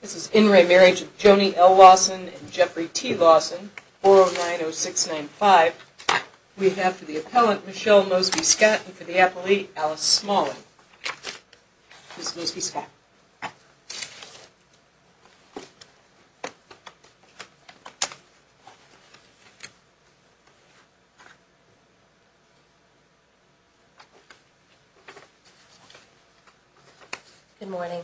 This is In Re. Marriage of Joni L. Lawson and Jeffrey T. Lawson, 4090695. We have for the Appellant, Michelle Mosby-Scott, and for the Appellee, Alice Smalling. Miss Mosby-Scott. Good morning.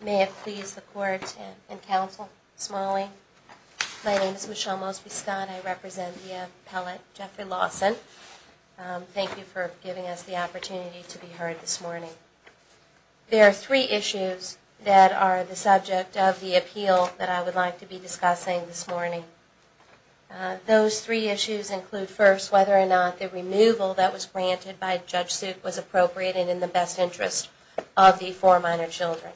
May it please the Court and Counsel, Smalling. My name is Michelle Mosby-Scott. I represent the Appellate, Jeffrey Lawson. Thank you for giving us the opportunity to be heard this morning. There are three issues that are the subject of the appeal that I would like to be discussing this morning. Those three issues include, first, whether or not the removal that was granted by Judge Suk was appropriate and in the best interest of the four minor children.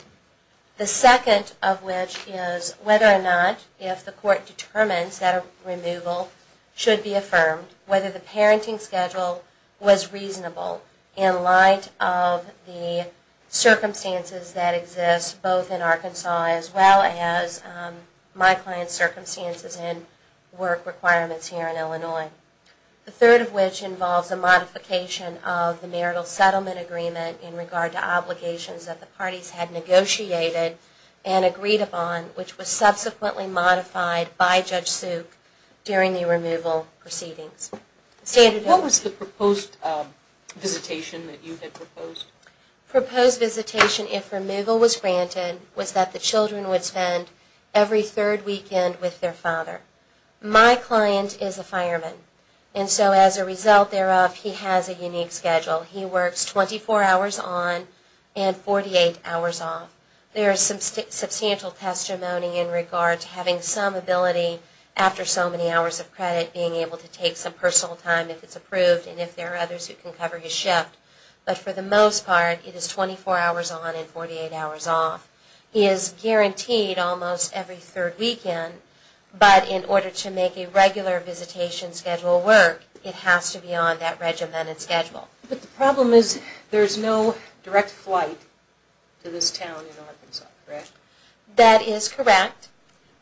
The second of which is whether or not, if the Court determines that a removal should be affirmed, whether the parenting schedule was reasonable in light of the circumstances that exist both in Arkansas as well as my client's circumstances and work requirements here in Illinois. The third of which involves a modification of the marital settlement agreement in regard to obligations that the parties had negotiated and agreed upon, which was subsequently modified by Judge Suk during the removal proceedings. What was the proposed visitation that you had proposed? Proposed visitation, if removal was granted, was that the children would spend every third weekend with their father. My client is a fireman, and so as a result thereof, he has a unique schedule. He works 24 hours on and 48 hours off. There is some substantial testimony in regard to having some ability, after so many hours of credit, being able to take some personal time if it's approved and if there are others who can cover his shift. But for the most part, it is 24 hours on and 48 hours off. He is guaranteed almost every third weekend, but in order to make a regular visitation schedule work, But the problem is there is no direct flight to this town in Arkansas, correct? That is correct,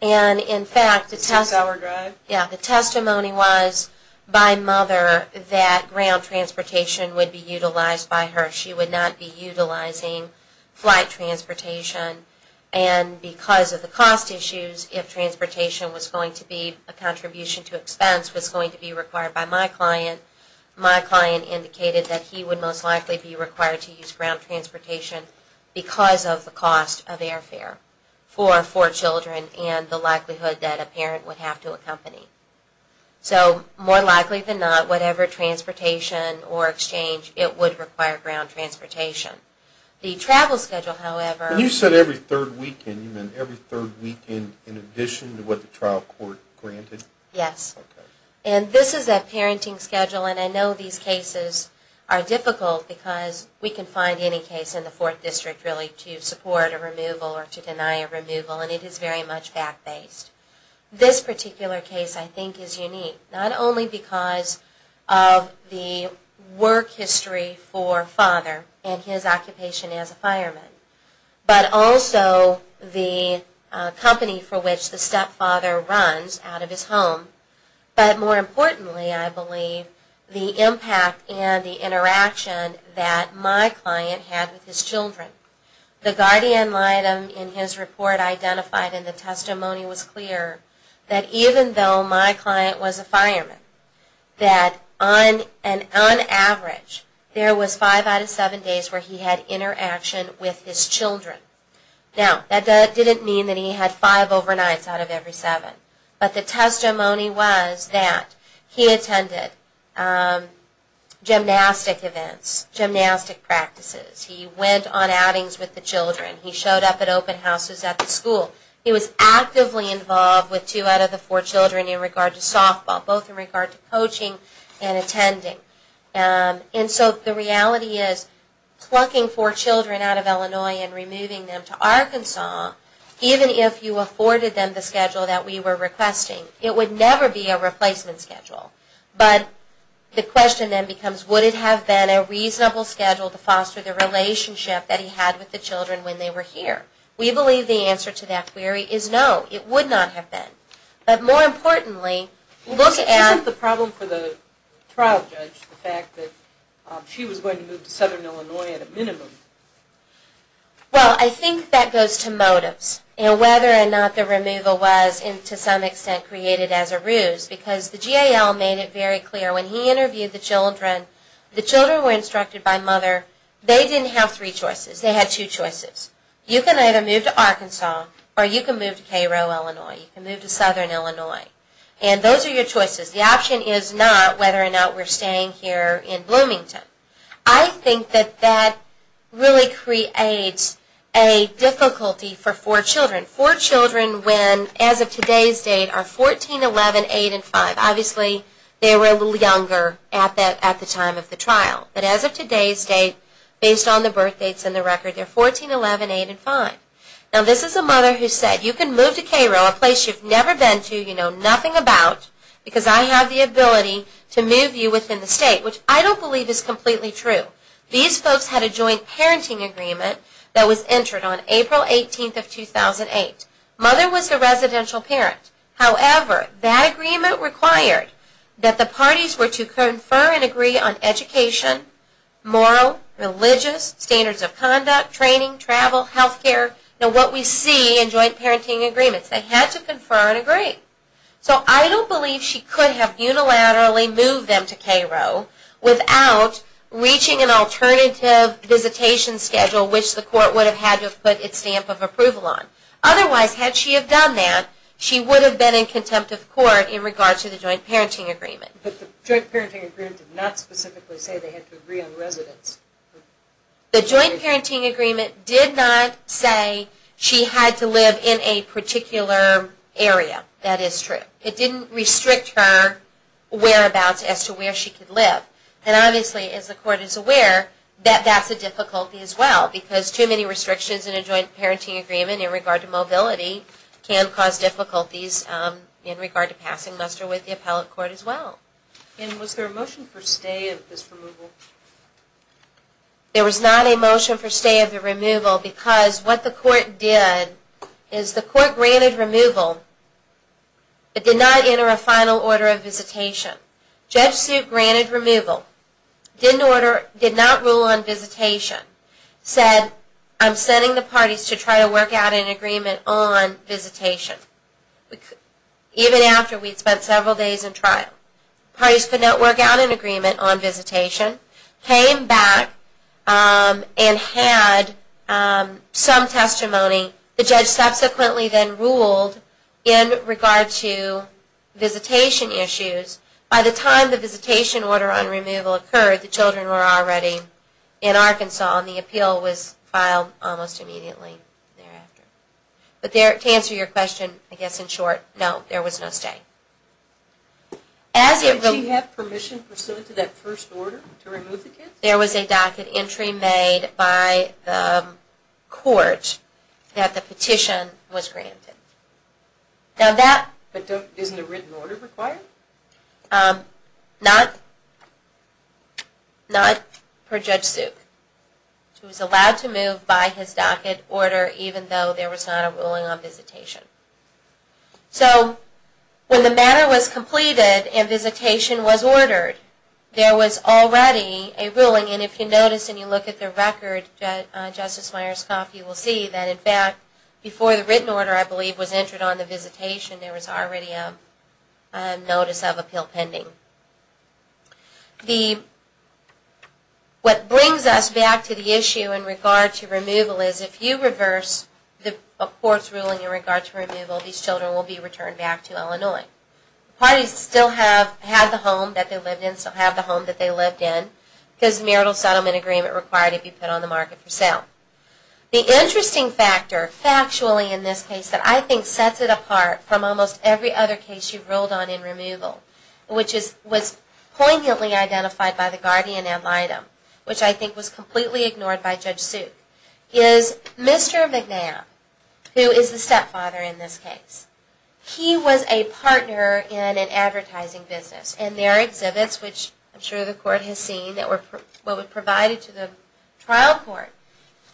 and in fact the testimony was by mother that ground transportation would be utilized by her. She would not be utilizing flight transportation, and because of the cost issues, if transportation was going to be a contribution to expense, was going to be required by my client, my client indicated that he would most likely be required to use ground transportation because of the cost of airfare for four children and the likelihood that a parent would have to accompany. So more likely than not, whatever transportation or exchange, it would require ground transportation. The travel schedule, however... You said every third weekend, you mean every third weekend in addition to what the trial court granted? Yes, and this is a parenting schedule, and I know these cases are difficult because we can find any case in the fourth district really to support a removal or to deny a removal, and it is very much fact-based. This particular case I think is unique, not only because of the work history for father and his occupation as a fireman, but also the company for which the stepfather runs out of his home, but more importantly I believe the impact and the interaction that my client had with his children. The guardian item in his report identified in the testimony was clear that even though my client was a fireman, that on average there was five out of seven days where he had interaction with his children. Now, that didn't mean that he had five overnights out of every seven, but the testimony was that he attended gymnastic events, gymnastic practices. He went on outings with the children. He was actively involved with two out of the four children in regard to softball, both in regard to coaching and attending. And so the reality is plucking four children out of Illinois and removing them to Arkansas, even if you afforded them the schedule that we were requesting, it would never be a replacement schedule. But the question then becomes would it have been a reasonable schedule to foster the relationship that he had with the children when they were here? We believe the answer to that query is no, it would not have been. But more importantly, look at... Isn't the problem for the trial judge the fact that she was going to move to southern Illinois at a minimum? Well, I think that goes to motives and whether or not the removal was to some extent created as a ruse, because the GAL made it very clear when he interviewed the children, the children were instructed by mother, they didn't have three choices, they had two choices. You can either move to Arkansas or you can move to Cairo, Illinois. You can move to southern Illinois. And those are your choices. The option is not whether or not we're staying here in Bloomington. I think that that really creates a difficulty for four children. Four children when, as of today's date, are 14, 11, 8, and 5. But as of today's date, based on the birth dates and the record, they're 14, 11, 8, and 5. Now this is a mother who said, you can move to Cairo, a place you've never been to, you know nothing about, because I have the ability to move you within the state, which I don't believe is completely true. These folks had a joint parenting agreement that was entered on April 18th of 2008. Mother was the residential parent. However, that agreement required that the parties were to confer and agree on education, moral, religious, standards of conduct, training, travel, health care, and what we see in joint parenting agreements. They had to confer and agree. So I don't believe she could have unilaterally moved them to Cairo without reaching an alternative visitation schedule, which the court would have had to put its stamp of approval on. Otherwise, had she have done that, she would have been in contempt of court in regards to the joint parenting agreement. But the joint parenting agreement did not specifically say they had to agree on residence. The joint parenting agreement did not say she had to live in a particular area. That is true. It didn't restrict her whereabouts as to where she could live. And obviously, as the court is aware, that's a difficulty as well, because too many restrictions in a joint parenting agreement in regard to mobility can cause difficulties in regard to passing muster with the appellate court as well. And was there a motion for stay of this removal? There was not a motion for stay of the removal because what the court did is the court granted removal but did not enter a final order of visitation. Judge Sue granted removal, did not rule on visitation, said I'm sending the parties to try to work out an agreement on visitation. Even after we'd spent several days in trial. Parties could not work out an agreement on visitation, came back and had some testimony. The judge subsequently then ruled in regard to visitation issues by the time the visitation order on removal occurred, the children were already in Arkansas and the appeal was filed almost immediately thereafter. But to answer your question, I guess in short, no, there was no stay. Did she have permission pursuant to that first order to remove the kids? There was a docket entry made by the court that the petition was granted. But isn't a written order required? Not per Judge Sue. She was allowed to move by his docket order even though there was not a ruling on visitation. So when the matter was completed and visitation was ordered, there was already a ruling. And if you notice and you look at the record, Justice Myers-Kauf, you will see that, in fact, before the written order, I believe, was entered on the visitation, there was already a notice of appeal pending. What brings us back to the issue in regard to removal is if you reverse a court's ruling in regard to removal, these children will be returned back to Illinois. Parties still have the home that they lived in, still have the home that they lived in, because the marital settlement agreement required it to be put on the market for sale. The interesting factor, factually in this case, that I think sets it apart from almost every other case you've ruled on in removal, which was poignantly identified by the guardian ad litem, which I think was completely ignored by Judge Sue, is Mr. McNabb, who is the stepfather in this case. He was a partner in an advertising business. In their exhibits, which I'm sure the court has seen, that were provided to the trial court,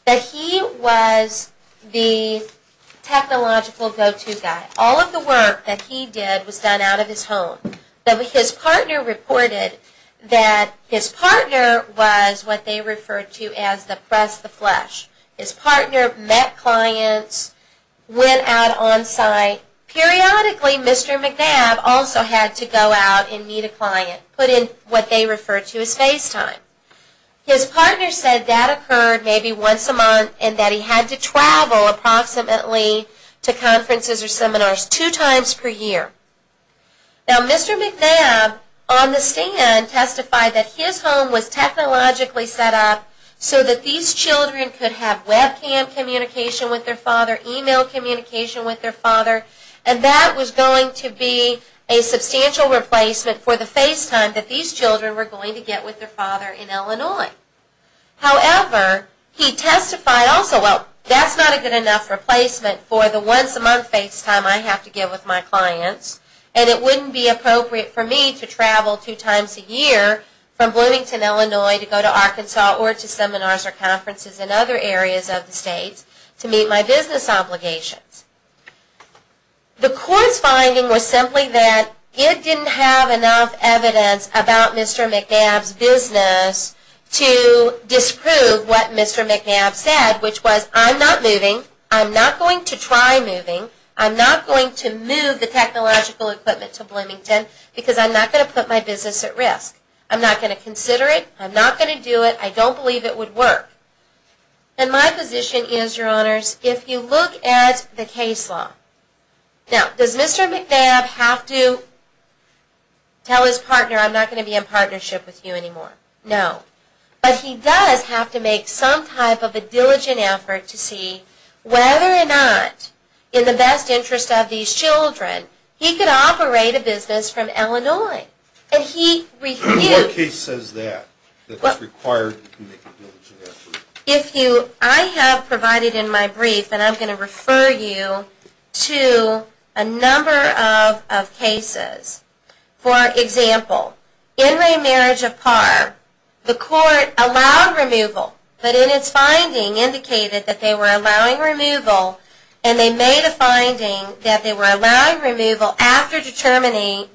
that he was the technological go-to guy. All of the work that he did was done out of his home. His partner reported that his partner was what they referred to as the press of the flesh. His partner met clients, went out on site. Periodically, Mr. McNabb also had to go out and meet a client, put in what they referred to as FaceTime. His partner said that occurred maybe once a month, and that he had to travel approximately to conferences or seminars two times per year. Now, Mr. McNabb, on the stand, testified that his home was technologically set up so that these children could have webcam communication with their father, email communication with their father, and that was going to be a substantial replacement for the FaceTime that these children were going to get with their father in Illinois. However, he testified also, well, that's not a good enough replacement for the once a month FaceTime I have to give with my clients, and it wouldn't be appropriate for me to travel two times a year from Bloomington, Illinois, to go to Arkansas or to seminars or conferences in other areas of the state to meet my business obligations. The court's finding was simply that it didn't have enough evidence about Mr. McNabb's business to disprove what Mr. McNabb said, which was, I'm not moving. I'm not going to try moving. I'm not going to move the technological equipment to Bloomington because I'm not going to put my business at risk. I'm not going to consider it. I'm not going to do it. I don't believe it would work. And my position is, Your Honors, if you look at the case law, now, does Mr. McNabb have to tell his partner, I'm not going to be in partnership with you anymore? No. But he does have to make some type of a diligent effort to see whether or not, in the best interest of these children, he could operate a business from Illinois. What case says that, that it's required to make a diligent effort? I have provided in my brief, and I'm going to refer you to a number of cases. For example, in Ray Marriage of Parr, the court allowed removal, but in its finding indicated that they were allowing removal, and they made a finding that they were allowing removal after determining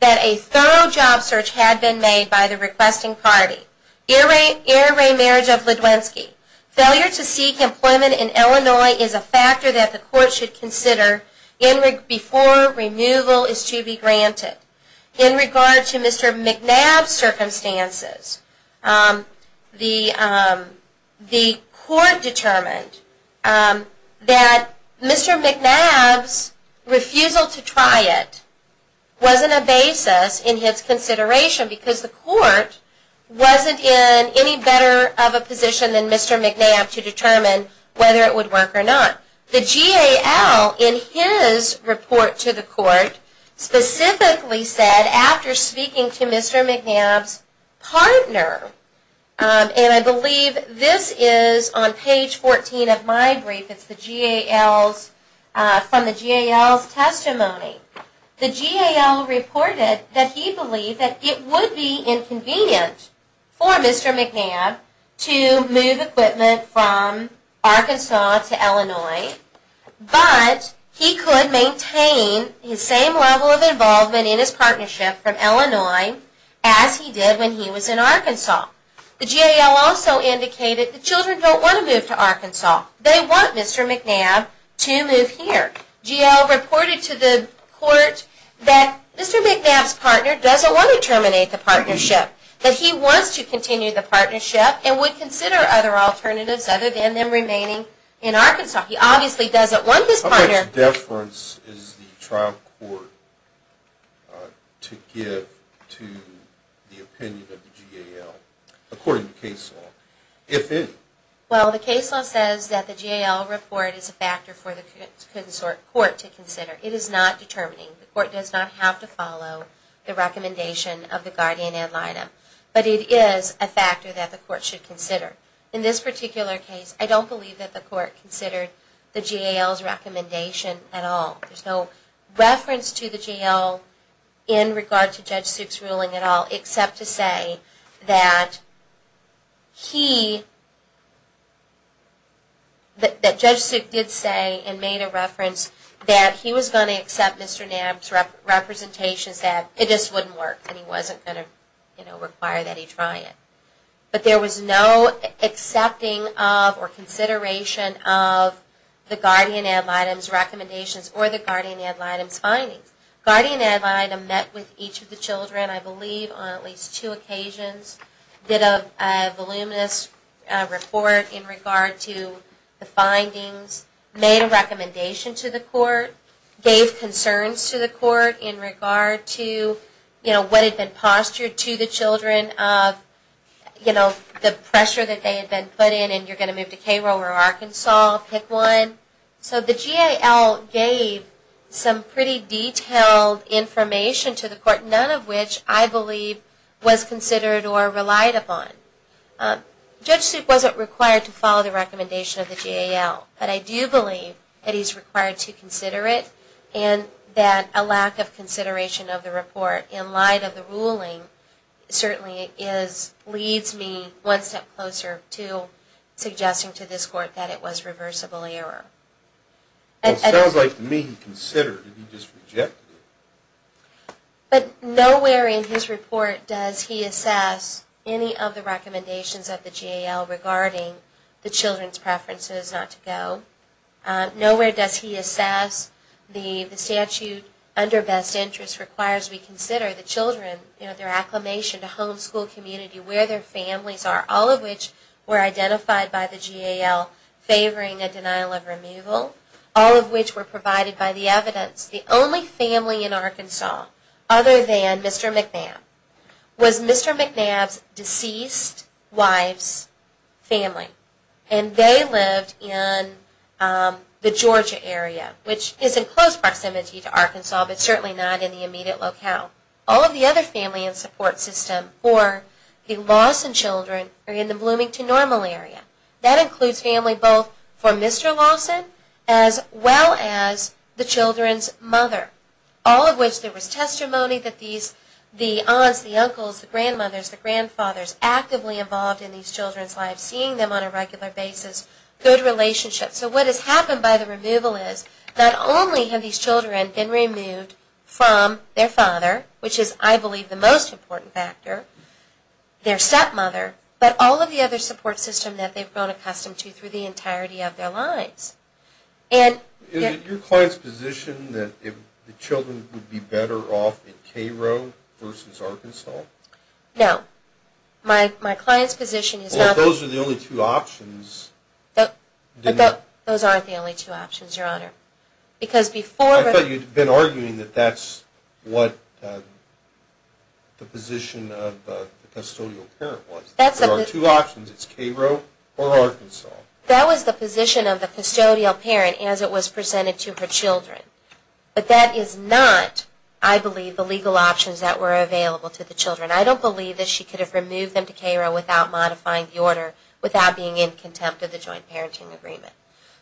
that a thorough job search had been made by the requesting party. In Ray Marriage of Ledwenski, failure to seek employment in Illinois is a factor that the court should consider before removal is to be granted. In regard to Mr. McNabb's circumstances, the court determined that Mr. McNabb's refusal to try it wasn't a basis in his consideration, because the court wasn't in any better of a position than Mr. McNabb to determine whether it would work or not. The GAL, in his report to the court, specifically said, after speaking to Mr. McNabb's partner, and I believe this is on page 14 of my brief, it's from the GAL's testimony, the GAL reported that he believed that it would be inconvenient for Mr. McNabb to move equipment from Arkansas to Illinois, but he could maintain his same level of involvement in his partnership from Illinois as he did when he was in Arkansas. The GAL also indicated that children don't want to move to Arkansas. They want Mr. McNabb to move here. The GAL reported to the court that Mr. McNabb's partner doesn't want to terminate the partnership, that he wants to continue the partnership and would consider other alternatives other than them remaining in Arkansas. He obviously doesn't want his partner... How much deference is the trial court to give to the opinion of the GAL, according to the case law, if any? Well, the case law says that the GAL report is a factor for the court to consider. It is not determining. The court does not have to follow the recommendation of the guardian ad litem, but it is a factor that the court should consider. In this particular case, I don't believe that the court considered the GAL's recommendation at all. There's no reference to the GAL in regard to Judge Suk's ruling at all, except to say that Judge Suk did say and made a reference that he was going to accept Mr. McNabb's representations, that it just wouldn't work and he wasn't going to require that he try it. But there was no accepting of or consideration of the guardian ad litem's recommendations or the guardian ad litem's findings. Guardian ad litem met with each of the children, I believe, on at least two occasions. Did a voluminous report in regard to the findings. Made a recommendation to the court. Gave concerns to the court in regard to, you know, what had been postured to the children of, you know, the pressure that they had been put in, and you're going to move to Cairo or Arkansas, pick one. So the GAL gave some pretty detailed information to the court, none of which I believe was considered or relied upon. Judge Suk wasn't required to follow the recommendation of the GAL, but I do believe that he's required to consider it and that a lack of consideration of the report in light of the ruling certainly leads me one step closer to suggesting to this court that it was reversible error. It sounds like to me he considered it, he just rejected it. But nowhere in his report does he assess any of the recommendations of the GAL regarding the children's preferences not to go. Nowhere does he assess the statute under best interest requires we consider the children, you know, their acclimation to home, school, community, where their families are, all of which were identified by the GAL favoring a denial of removal, all of which were provided by the evidence. The only family in Arkansas other than Mr. McNabb was Mr. McNabb's deceased wife's family, and they lived in the Georgia area, which is in close proximity to Arkansas, but certainly not in the immediate locale. All of the other family and support system for the Lawson children are in the Bloomington Normal area. That includes family both for Mr. Lawson as well as the children's mother, all of which there was testimony that the aunts, the uncles, the grandmothers, the grandfathers actively involved in these children's lives, seeing them on a regular basis, good relationships. So what has happened by the removal is not only have these children been removed from their father, which is I believe the most important factor, their stepmother, but all of the other support system that they've grown accustomed to through the entirety of their lives. Is it your client's position that the children would be better off in K-Road versus Arkansas? No. My client's position is not that. Well, if those are the only two options. Those aren't the only two options, Your Honor, because before... I thought you'd been arguing that that's what the position of the custodial parent was. There are two options. It's K-Road or Arkansas. That was the position of the custodial parent as it was presented to her children. But that is not, I believe, the legal options that were available to the children. I don't believe that she could have removed them to K-Road without modifying the order, without being in contempt of the joint parenting agreement.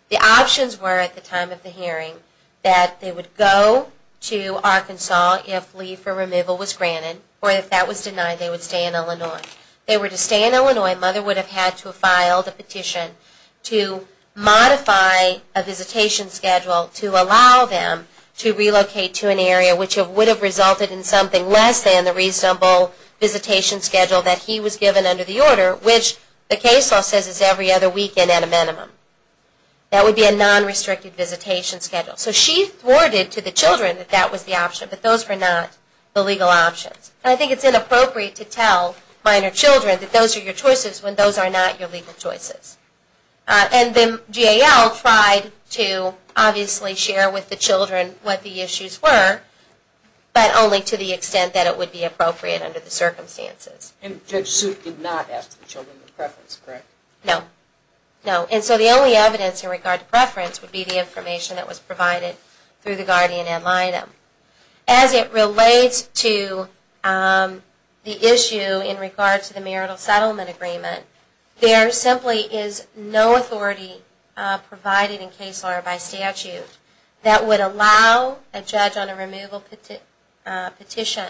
The options were, at the time of the hearing, that they would go to Arkansas if leave for removal was granted, or if that was denied, they would stay in Illinois. If they were to stay in Illinois, Mother would have had to have filed a petition to modify a visitation schedule to allow them to relocate to an area which would have resulted in something less than the reasonable visitation schedule that he was given under the order, which the case law says is every other weekend at a minimum. That would be a non-restricted visitation schedule. So she thwarted to the children that that was the option, but those were not the legal options. And I think it's inappropriate to tell minor children that those are your choices when those are not your legal choices. And then GAL tried to obviously share with the children what the issues were, but only to the extent that it would be appropriate under the circumstances. And Judge Suit did not ask the children the preference, correct? No. No. And so the only evidence in regard to preference would be the information that was provided through the guardian ad litem. As it relates to the issue in regard to the marital settlement agreement, there simply is no authority provided in case law or by statute that would allow a judge on a removal petition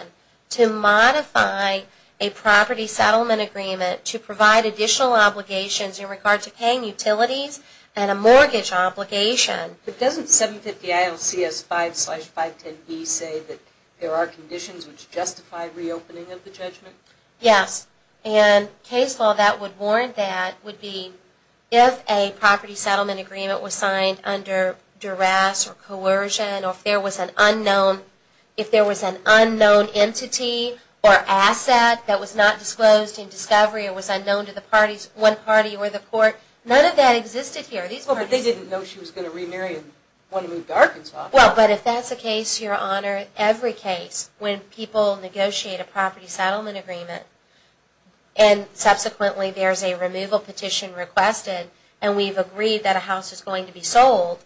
to modify a property settlement agreement to provide additional obligations in regard to paying utilities and a mortgage obligation. But doesn't 750-IL-CS-5-510-E say that there are conditions which justify reopening of the judgment? Yes. And case law that would warrant that would be if a property settlement agreement was signed under duress or coercion or if there was an unknown entity or asset that was not disclosed in discovery or was unknown to one party or the court. None of that existed here. But they didn't know she was going to remarry and want to move to Arkansas. Well, but if that's the case, Your Honor, every case when people negotiate a property settlement agreement and subsequently there's a removal petition requested and we've agreed that a house is going to be sold,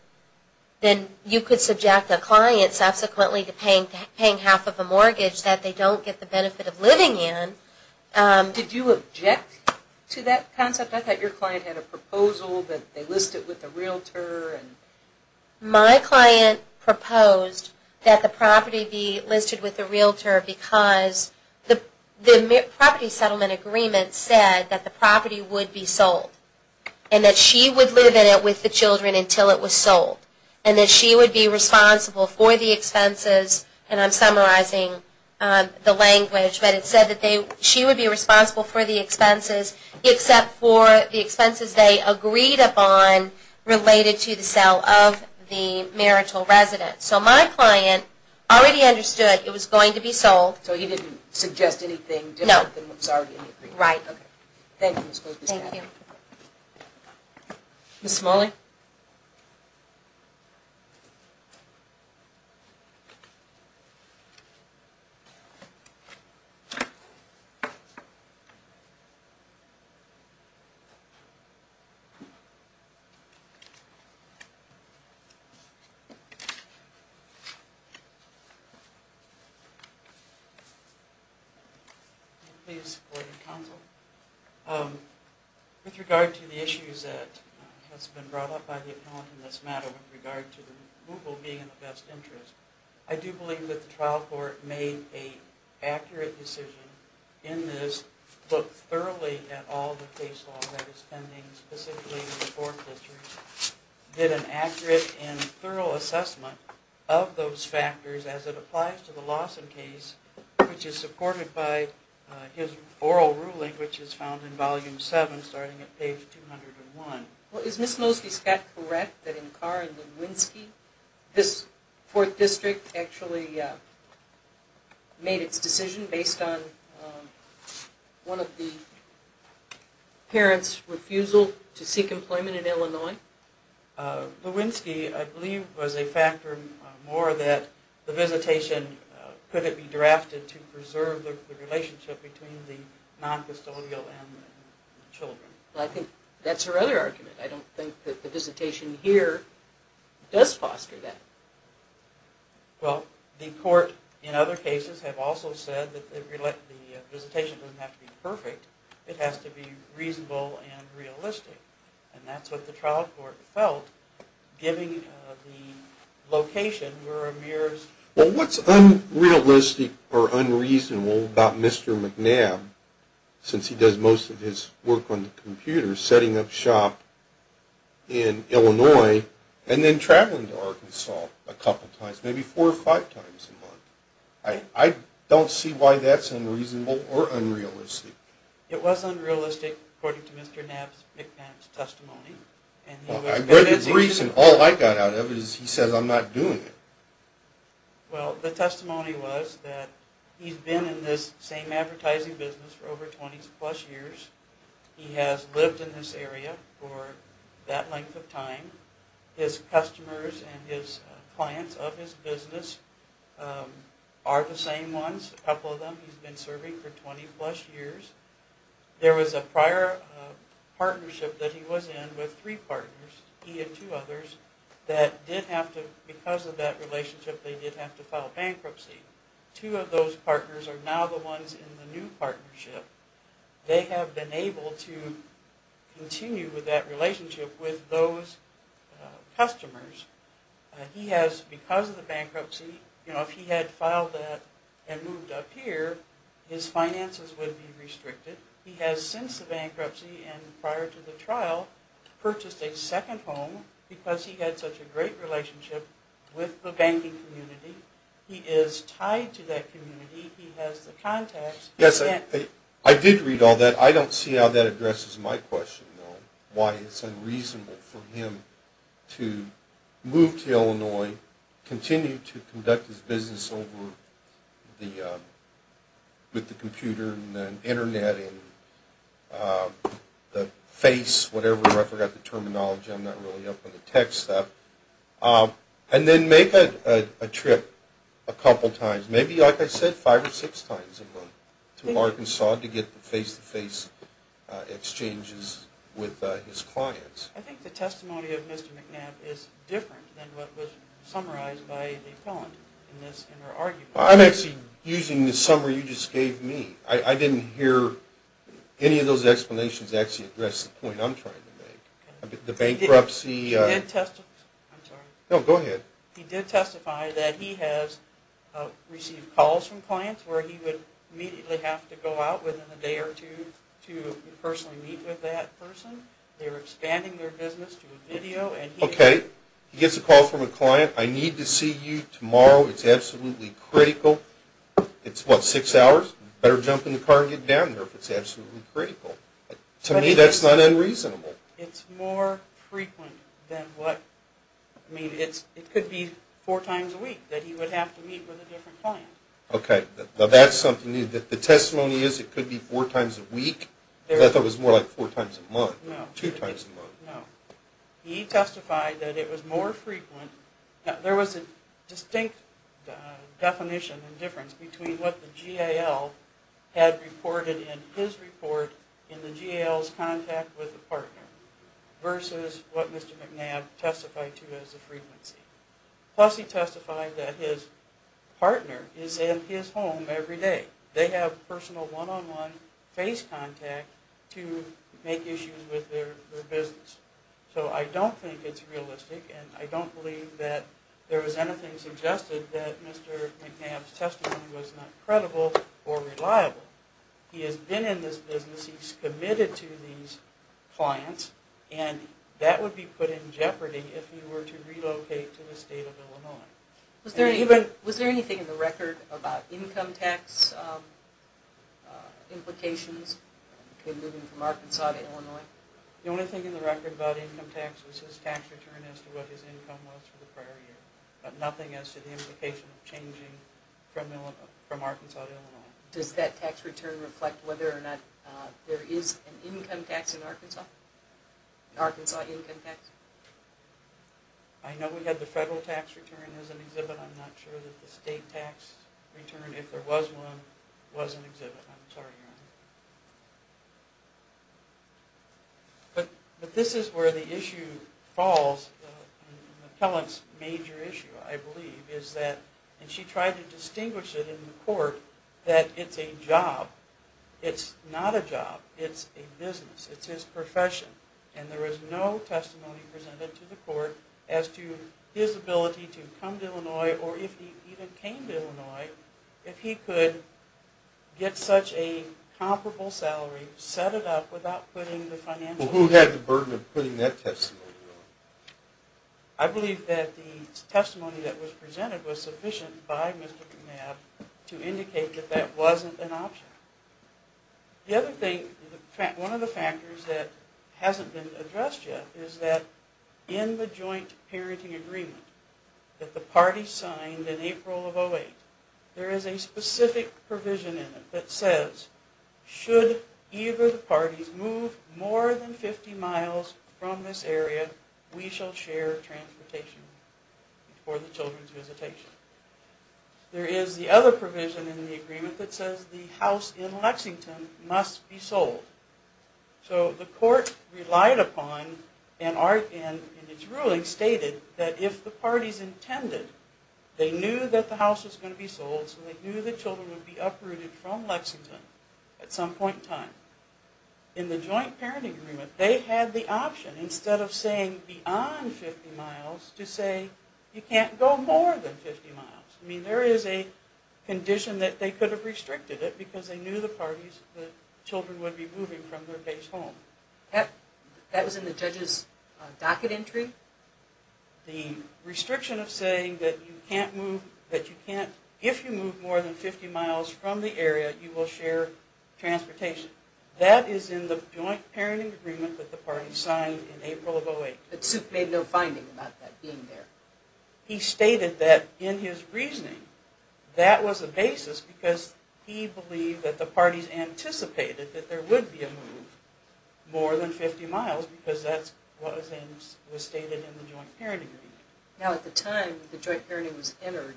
then you could subject a client subsequently to paying half of a mortgage that they don't get the benefit of living in. Did you object to that concept? I thought your client had a proposal that they listed with a realtor. My client proposed that the property be listed with a realtor because the property settlement agreement said that the property would be sold and that she would live in it with the children until it was sold and that she would be responsible for the expenses. And I'm summarizing the language, but it said that she would be responsible for the expenses except for the expenses they agreed upon related to the sale of the marital residence. So my client already understood it was going to be sold. So he didn't suggest anything different than what was already agreed? No. Right. Okay. Thank you, Ms. Goldstein. Thank you. Ms. Smalley? Can I please go to counsel? With regard to the issues that has been brought up by the appellant in this matter with regard to Google being in the best interest, I do believe that the trial court made an accurate decision in this, looked thoroughly at all the case law that is pending, specifically in the fourth district, did an accurate and thorough assessment of those factors as it applies to the Lawson case, which is supported by his oral ruling, which is found in Volume 7 starting at page 201. Well, is Ms. Mosky-Scott correct that in Carr and Lewinsky, this fourth district actually made its decision based on one of the parents' refusal to seek employment in Illinois? Lewinsky, I believe, was a factor more that the visitation couldn't be drafted to preserve the relationship between the noncustodial and the children. I think that's her other argument. I don't think that the visitation here does foster that. Well, the court in other cases have also said that the visitation doesn't have to be perfect. It has to be reasonable and realistic. And that's what the trial court felt, given the location where Amir's... Well, what's unrealistic or unreasonable about Mr. McNabb, since he does most of his work on the computer, setting up shop in Illinois, and then traveling to Arkansas a couple times, maybe four or five times a month? I don't see why that's unreasonable or unrealistic. It was unrealistic, according to Mr. McNabb's testimony. Well, I read the briefs, and all I got out of it is he says, I'm not doing it. Well, the testimony was that he's been in this same advertising business for over 20-plus years. He has lived in this area for that length of time. His customers and his clients of his business are the same ones, a couple of them. He's been serving for 20-plus years. There was a prior partnership that he was in with three partners, he and two others, that did have to, because of that relationship, they did have to file bankruptcy. Two of those partners are now the ones in the new partnership. They have been able to continue that relationship with those customers. He has, because of the bankruptcy, if he had filed that and moved up here, his finances would be restricted. He has, since the bankruptcy and prior to the trial, purchased a second home because he had such a great relationship with the banking community. He is tied to that community. He has the contacts. Yes, I did read all that. I don't see how that addresses my question, though, why it's unreasonable for him to move to Illinois, continue to conduct his business with the computer and the Internet and the face, whatever, I forgot the terminology, I'm not really up on the tech stuff, and then make a trip a couple times, maybe, like I said, five or six times to Arkansas to get the face-to-face exchanges with his clients. I think the testimony of Mr. McNabb is different than what was summarized by the appellant in her argument. I'm actually using the summary you just gave me. I didn't hear any of those explanations actually address the point I'm trying to make. The bankruptcy... I'm sorry. No, go ahead. He did testify that he has received calls from clients where he would immediately have to go out within a day or two to personally meet with that person. They were expanding their business to video and he... Okay, he gets a call from a client, I need to see you tomorrow, it's absolutely critical. It's what, six hours? Better jump in the car and get down there if it's absolutely critical. To me, that's not unreasonable. It's more frequent than what... I mean, it could be four times a week that he would have to meet with a different client. Okay, now that's something new. The testimony is it could be four times a week? Because I thought it was more like four times a month. No. Two times a month. No. He testified that it was more frequent... There was a distinct definition and difference between what the GAL had reported in his report in the GAL's contact with the partner versus what Mr. McNabb testified to as the frequency. Plus he testified that his partner is in his home every day. They have personal one-on-one face contact to make issues with their business. So I don't think it's realistic and I don't believe that there was anything suggested that Mr. McNabb's testimony was not credible or reliable. He has been in this business, he's committed to these clients, and that would be put in jeopardy if he were to relocate to the state of Illinois. Was there anything in the record about income tax implications in moving from Arkansas to Illinois? The only thing in the record about income tax was his tax return as to what his income was for the prior year, but nothing as to the implication of changing from Arkansas to Illinois. Does that tax return reflect whether or not there is an income tax in Arkansas? An Arkansas income tax? I know we had the federal tax return as an exhibit. I'm not sure that the state tax return, if there was one, was an exhibit. I'm sorry, Your Honor. But this is where the issue falls, an appellant's major issue, I believe, is that, and she tried to distinguish it in the court, that it's a job. It's not a job. It's a business. It's his profession. And there is no testimony presented to the court as to his ability to come to Illinois, or if he even came to Illinois, if he could get such a comparable salary, set it up without putting the financial burden on it. Well, who had the burden of putting that testimony on? I believe that the testimony that was presented was sufficient by Mr. Knapp to indicate that that wasn't an option. The other thing, one of the factors that hasn't been addressed yet is that in the joint parenting agreement that the party signed in April of 08, there is a specific provision in it that says should either of the parties move more than 50 miles from this area, we shall share transportation for the children's visitation. There is the other provision in the agreement that says the house in Lexington must be sold. So the court relied upon, and its ruling stated, that if the parties intended, they knew that the house was going to be sold, so they knew the children would be uprooted from Lexington at some point in time. In the joint parenting agreement, they had the option, instead of saying beyond 50 miles, to say you can't go more than 50 miles. I mean, there is a condition that they could have restricted it because they knew the parties, the children would be moving from their base home. That was in the judge's docket entry? The restriction of saying that you can't move, that you can't, if you move more than 50 miles from the area, that you will share transportation. That is in the joint parenting agreement that the parties signed in April of 08. But Supe made no finding about that being there. He stated that in his reasoning, that was the basis because he believed that the parties anticipated that there would be a move more than 50 miles because that was stated in the joint parenting agreement. Now at the time the joint parenting was entered,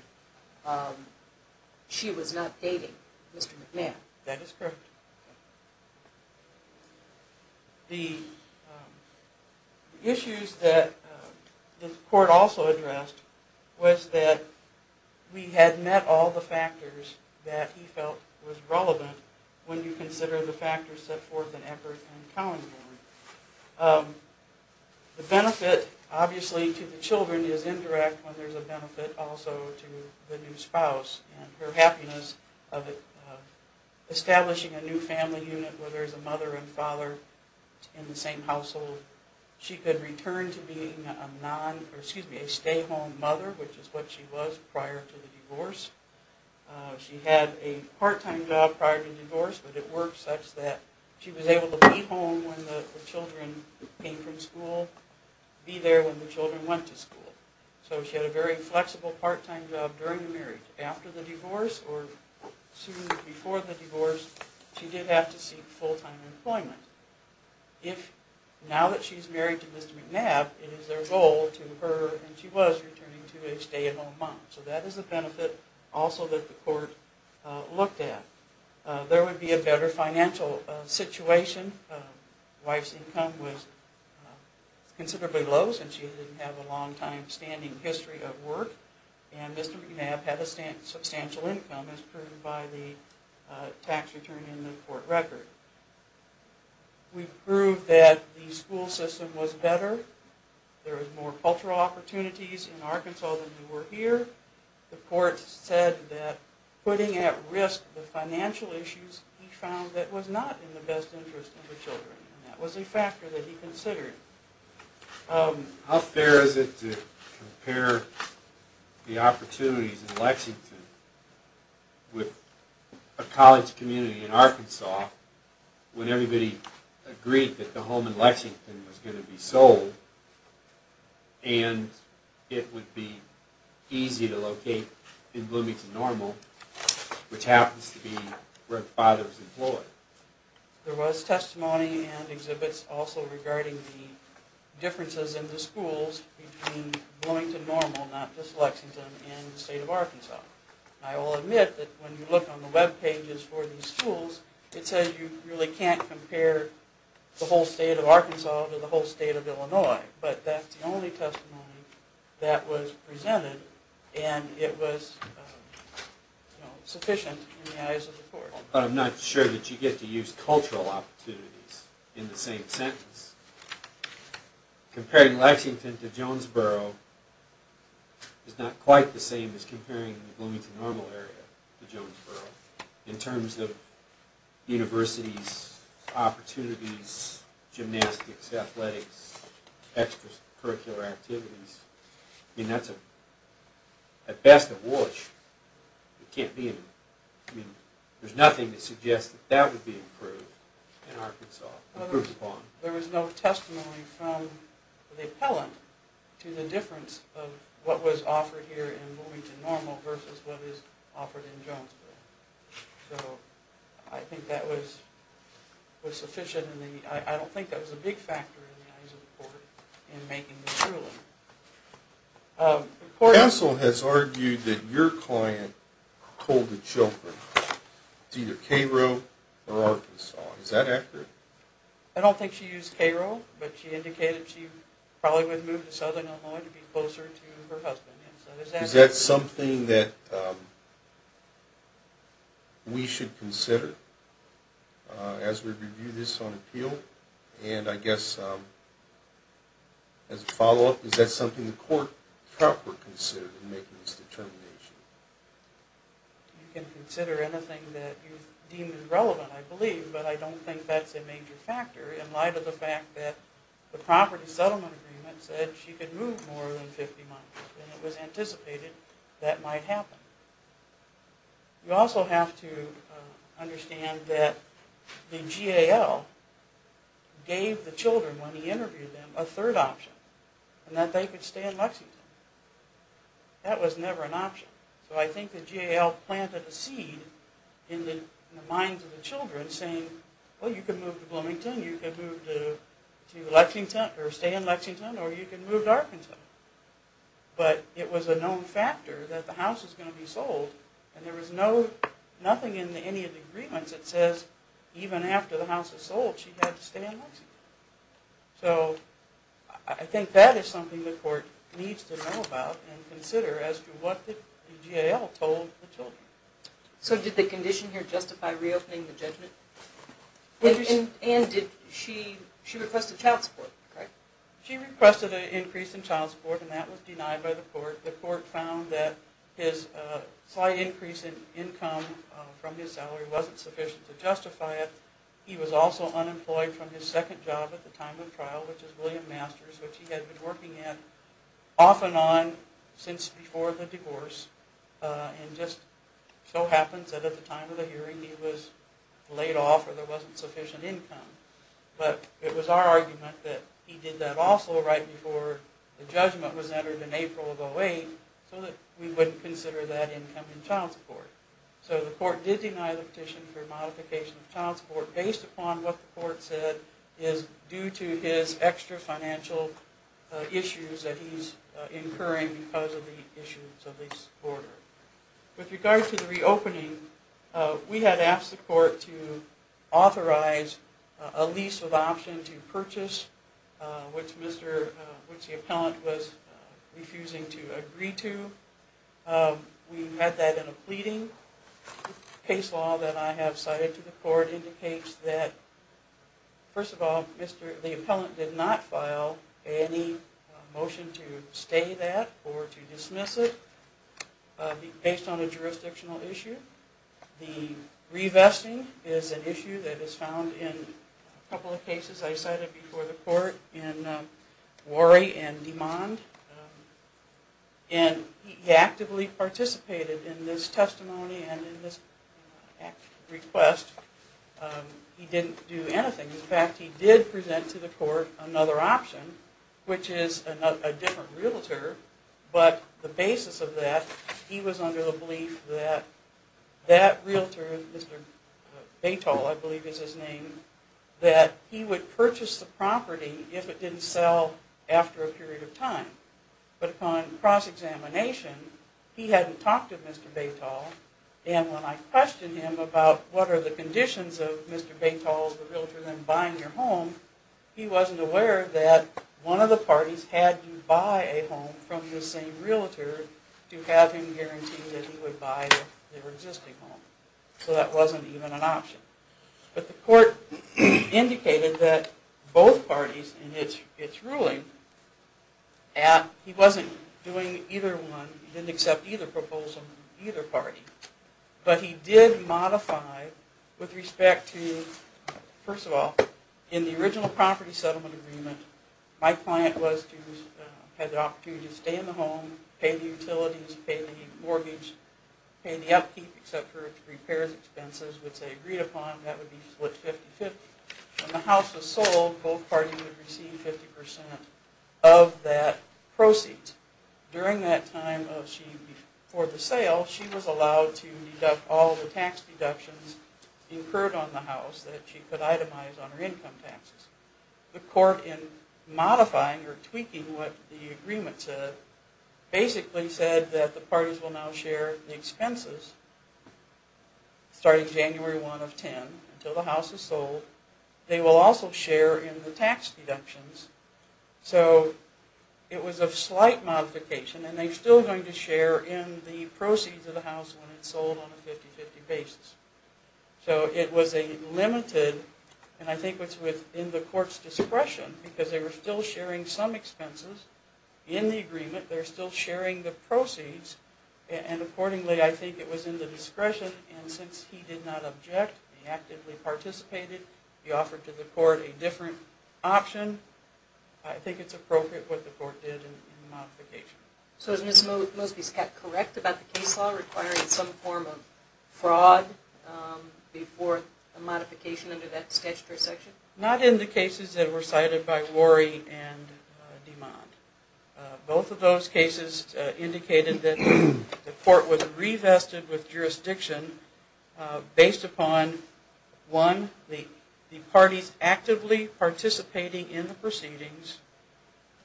she was not dating Mr. McMahon. That is correct. The issues that the court also addressed was that we had met all the factors that he felt was relevant when you consider the factors set forth in Eckert and Cowanborn. The benefit, obviously, to the children is indirect when there's a benefit also to the new spouse and her happiness of establishing a new family unit where there's a mother and father in the same household. She could return to being a stay-at-home mother, which is what she was prior to the divorce. She had a part-time job prior to the divorce, but it worked such that she was able to be home be there when the children went to school. So she had a very flexible part-time job during the marriage. After the divorce or soon before the divorce, she did have to seek full-time employment. Now that she's married to Mr. McNabb, it is their goal to her, and she was, returning to a stay-at-home mom. So that is a benefit also that the court looked at. There would be a better financial situation. The wife's income was considerably low since she didn't have a long-standing history of work, and Mr. McNabb had a substantial income as proven by the tax return in the court record. We proved that the school system was better. There were more cultural opportunities in Arkansas than there were here. The court said that putting at risk the financial issues, he found that was not in the best interest of the children, and that was a factor that he considered. How fair is it to compare the opportunities in Lexington with a college community in Arkansas when everybody agreed that the home in Lexington was going to be sold, and it would be easy to locate in Bloomington Normal, which happens to be where the father was employed? There was testimony and exhibits also regarding the differences in the schools between Bloomington Normal, not just Lexington, and the state of Arkansas. I will admit that when you look on the webpages for these schools, it says you really can't compare the whole state of Arkansas to the whole state of Illinois, but that's the only testimony that was presented, and it was sufficient in the eyes of the court. But I'm not sure that you get to use cultural opportunities in the same sentence. Comparing Lexington to Jonesboro is not quite the same as comparing the Bloomington Normal area to Jonesboro in terms of universities, opportunities, gymnastics, athletics, extracurricular activities. At best, there's nothing to suggest that would be approved in Arkansas. There was no testimony from the appellant to the difference of what was offered here in Bloomington Normal versus what was offered in Jonesboro. So I think that was sufficient. I don't think that was a big factor in the eyes of the court in making this ruling. The counsel has argued that your client told the children it's either Cairo or Arkansas. Is that accurate? I don't think she used Cairo, but she indicated she probably would move to southern Illinois to be closer to her husband. Is that something that we should consider as we review this on appeal? And I guess as a follow-up, is that something the court proper considered in making this determination? You can consider anything that you deem is relevant, I believe, but I don't think that's a major factor in light of the fact that the property settlement agreement said she could move more than 50 months, and it was anticipated that might happen. You also have to understand that the GAL gave the children, when he interviewed them, a third option, and that they could stay in Lexington. That was never an option. So I think the GAL planted a seed in the minds of the children saying, well, you can move to Bloomington, you can move to Lexington, or stay in Lexington, or you can move to Arkansas. But it was a known factor that the house was going to be sold, and there was nothing in any of the agreements that says even after the house was sold, she had to stay in Lexington. So I think that is something the court needs to know about and consider as to what the GAL told the children. So did the condition here justify reopening the judgment? And she requested child support, correct? She requested an increase in child support, and that was denied by the court. The court found that his slight increase in income from his salary wasn't sufficient to justify it. He was also unemployed from his second job at the time of trial, which is William Masters, which he had been working at off and on since before the divorce, and just so happens that at the time of the hearing he was laid off or there wasn't sufficient income. But it was our argument that he did that also right before the judgment was entered in April of 2008 so that we wouldn't consider that income in child support. So the court did deny the petition for modification of child support based upon what the court said is due to his extra financial issues that he's incurring because of the issues of the order. With regard to the reopening, we had asked the court to authorize a lease of option to purchase, which the appellant was refusing to agree to. We had that in a pleading. Case law that I have cited to the court indicates that, first of all, the appellant did not file any motion to stay that or to dismiss it based on a jurisdictional issue. The revesting is an issue that is found in a couple of cases I cited before the court in Worry and Demond. And he actively participated in this testimony and in this request. He didn't do anything. In fact, he did present to the court another option, which is a different realtor, but the basis of that, he was under the belief that that realtor, Mr. Batol, I believe is his name, that he would purchase the property if it didn't sell after a period of time. But upon cross-examination, he hadn't talked to Mr. Batol, and when I questioned him about what are the conditions of Mr. Batol, the realtor, then buying your home, he wasn't aware that one of the parties had to buy a home from the same realtor to have him guarantee that he would buy their existing home. So that wasn't even an option. But the court indicated that both parties in its ruling, he wasn't doing either one, he didn't accept either proposal from either party, but he did modify with respect to, first of all, in the original property settlement agreement, my client had the opportunity to stay in the home, pay the utilities, pay the mortgage, pay the upkeep, etc., the repairs expenses, which they agreed upon, that would be split 50-50. When the house was sold, both parties would receive 50% of that proceed. During that time for the sale, she was allowed to deduct all the tax deductions incurred on the house that she could itemize on her income taxes. The court, in modifying or tweaking what the agreement said, basically said that the parties will now share the expenses starting January 1 of 10 until the house is sold. They will also share in the tax deductions. So it was a slight modification, and they're still going to share in the proceeds of the house when it's sold on a 50-50 basis. So it was a limited, and I think it's within the court's discretion, because they were still sharing some expenses in the agreement, they're still sharing the proceeds, and accordingly I think it was in the discretion, and since he did not object, he actively participated, he offered to the court a different option, I think it's appropriate what the court did in the modification. So is Ms. Mosby correct about the case law requiring some form of fraud before a modification under that statutory section? Not in the cases that were cited by Worry and DeMond. Both of those cases indicated that the court was revested with jurisdiction based upon, one, the parties actively participating in the proceedings,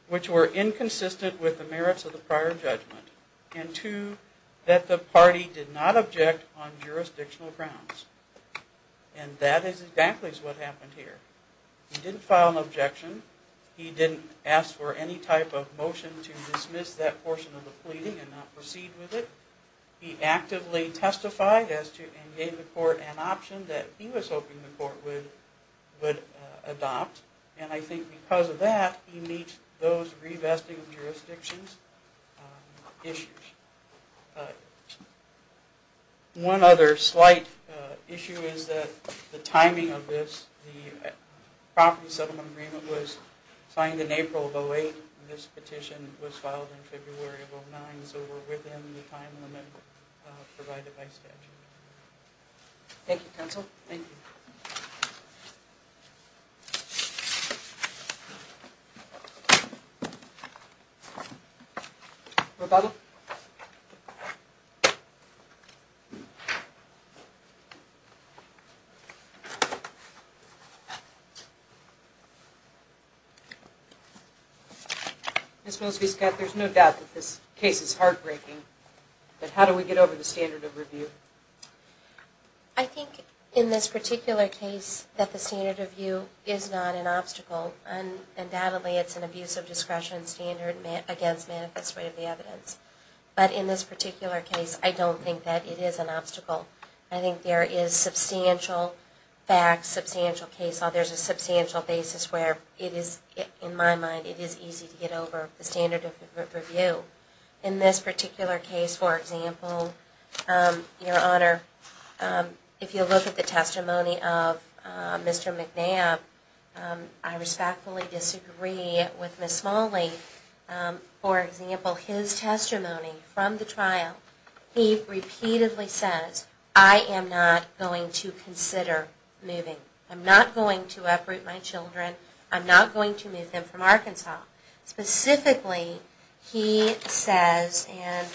which were inconsistent with the merits of the prior judgment, and two, that the party did not object on jurisdictional grounds. And that is exactly what happened here. He didn't file an objection, he didn't ask for any type of motion to dismiss that portion of the pleading and not proceed with it. He actively testified and gave the court an option that he was hoping the court would adopt, and I think because of that he meets those revesting of jurisdictions issues. One other slight issue is that the timing of this, the property settlement agreement was signed in April of 2008, this petition was filed in February of 2009, so we're within the time limit provided by statute. Thank you, counsel. Thank you. Rebuttal? Ms. Wills-Biscott, there's no doubt that this case is heartbreaking, but how do we get over the standard of review? I think in this particular case that the standard of review is not an obstacle. Undoubtedly, it's an abuse of discretion standard against manifest way of the evidence. But in this particular case, I don't think that it is an obstacle. I think there is substantial facts, substantial case law, there's a substantial basis where it is, in my mind, it is easy to get over the standard of review. In this particular case, for example, Your Honor, if you look at the testimony of Mr. McNabb, I respectfully disagree with Ms. Smalley. For example, his testimony from the trial, he repeatedly says, I am not going to consider moving. I'm not going to uproot my children. I'm not going to move them from Arkansas. Specifically, he says, and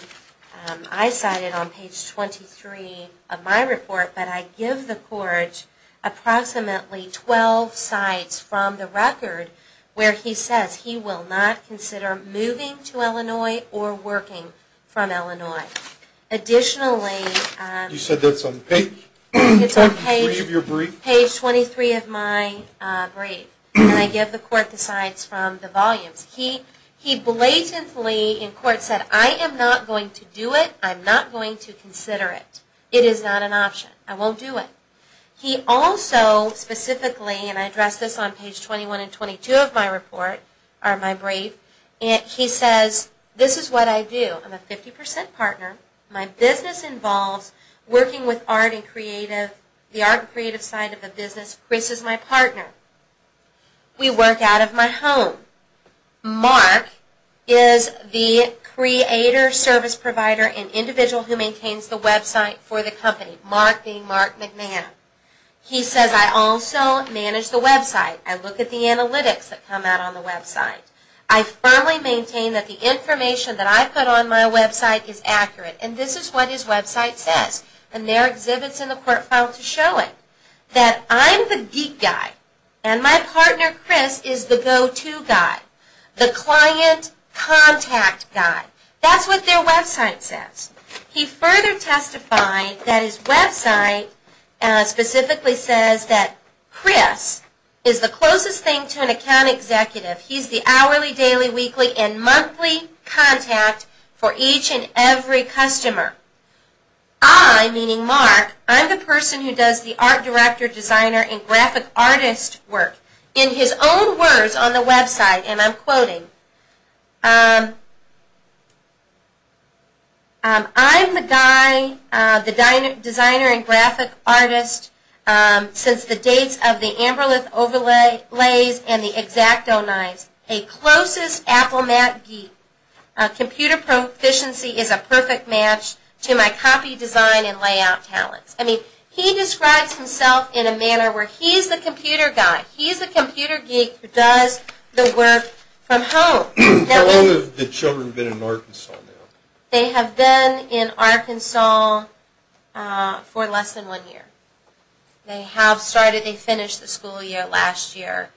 I cited on page 23 of my report, but I give the court approximately 12 sites from the record where he says he will not consider moving to Illinois or working from Illinois. Additionally... You said that's on page 23 of your brief? Page 23 of my brief. And I give the court the sites from the volumes. He blatantly in court said, I am not going to do it. I'm not going to consider it. It is not an option. I won't do it. He also specifically, and I address this on page 21 and 22 of my brief, he says, this is what I do. I'm a 50% partner. My business involves working with art and creative, the art and creative side of the business. Chris is my partner. We work out of my home. Mark is the creator, service provider, and individual who maintains the website for the company. Mark being Mark McNamara. He says, I also manage the website. I look at the analytics that come out on the website. I firmly maintain that the information that I put on my website is accurate. And this is what his website says. And there are exhibits in the court file to show it. That I'm the geek guy. And my partner Chris is the go-to guy. The client contact guy. That's what their website says. He further testified that his website specifically says that Chris is the closest thing to an account executive. He's the hourly, daily, weekly, and monthly contact for each and every customer. I, meaning Mark, I'm the person who does the art director, designer, and graphic artist work. In his own words on the website, and I'm quoting, I'm the guy, the designer and graphic artist, since the dates of the Amberlith overlays and the X-Acto knives. A closest Apple Mac geek. Computer proficiency is a perfect match to my copy design and layout talents. I mean, he describes himself in a manner where he's the computer guy. He's the computer geek who does the work from home. How long have the children been in Arkansas now? They have been in Arkansas for less than one year. They have started, they finished the school year last year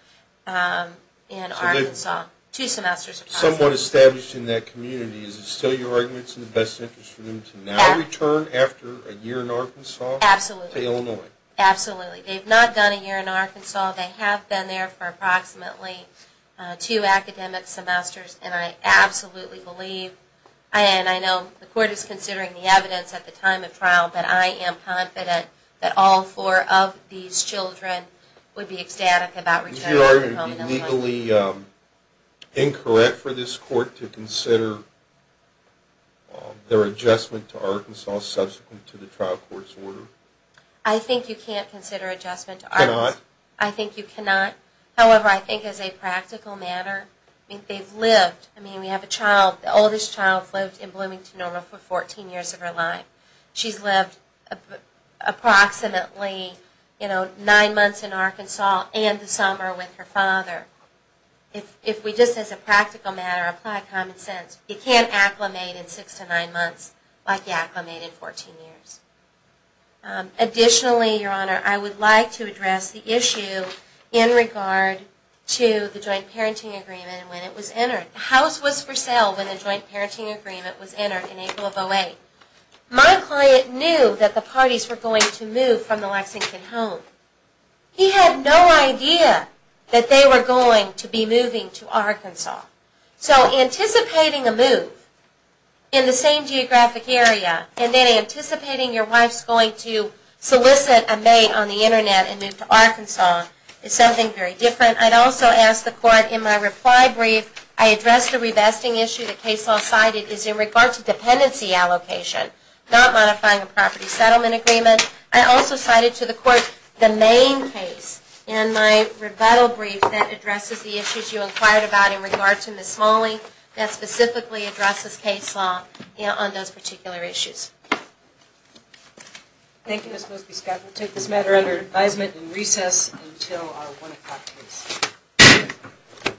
in Arkansas. Two semesters of college. It's somewhat established in that community. Is it still your argument it's in the best interest for them to now return after a year in Arkansas? Absolutely. To Illinois? Absolutely. They've not done a year in Arkansas. They have been there for approximately two academic semesters, and I absolutely believe, and I know the court is considering the evidence at the time of trial, Is it your argument it would be legally incorrect for this court to consider their adjustment to Arkansas subsequent to the trial court's order? I think you can't consider adjustment to Arkansas. You cannot? I think you cannot. However, I think as a practical matter, they've lived. I mean, we have a child, the oldest child lived in Bloomington, Normal, for 14 years of her life. She's lived approximately, you know, nine months in Arkansas and the summer with her father. If we just as a practical matter apply common sense, you can't acclimate in six to nine months like you acclimated 14 years. Additionally, Your Honor, I would like to address the issue in regard to the joint parenting agreement when it was entered. The house was for sale when the joint parenting agreement was entered in April of 08. My client knew that the parties were going to move from the Lexington home. He had no idea that they were going to be moving to Arkansas. So anticipating a move in the same geographic area, and then anticipating your wife's going to solicit a mate on the Internet and move to Arkansas, is something very different. I'd also ask the court in my reply brief, I addressed the revesting issue. The case law cited is in regard to dependency allocation, not modifying a property settlement agreement. I also cited to the court the main case in my rebuttal brief that addresses the issues you inquired about in regard to Ms. Smalley, that specifically addresses case law on those particular issues. Thank you, Ms. Mosby. Ms. Scott will take this matter under advisement and recess until our 1 o'clock case.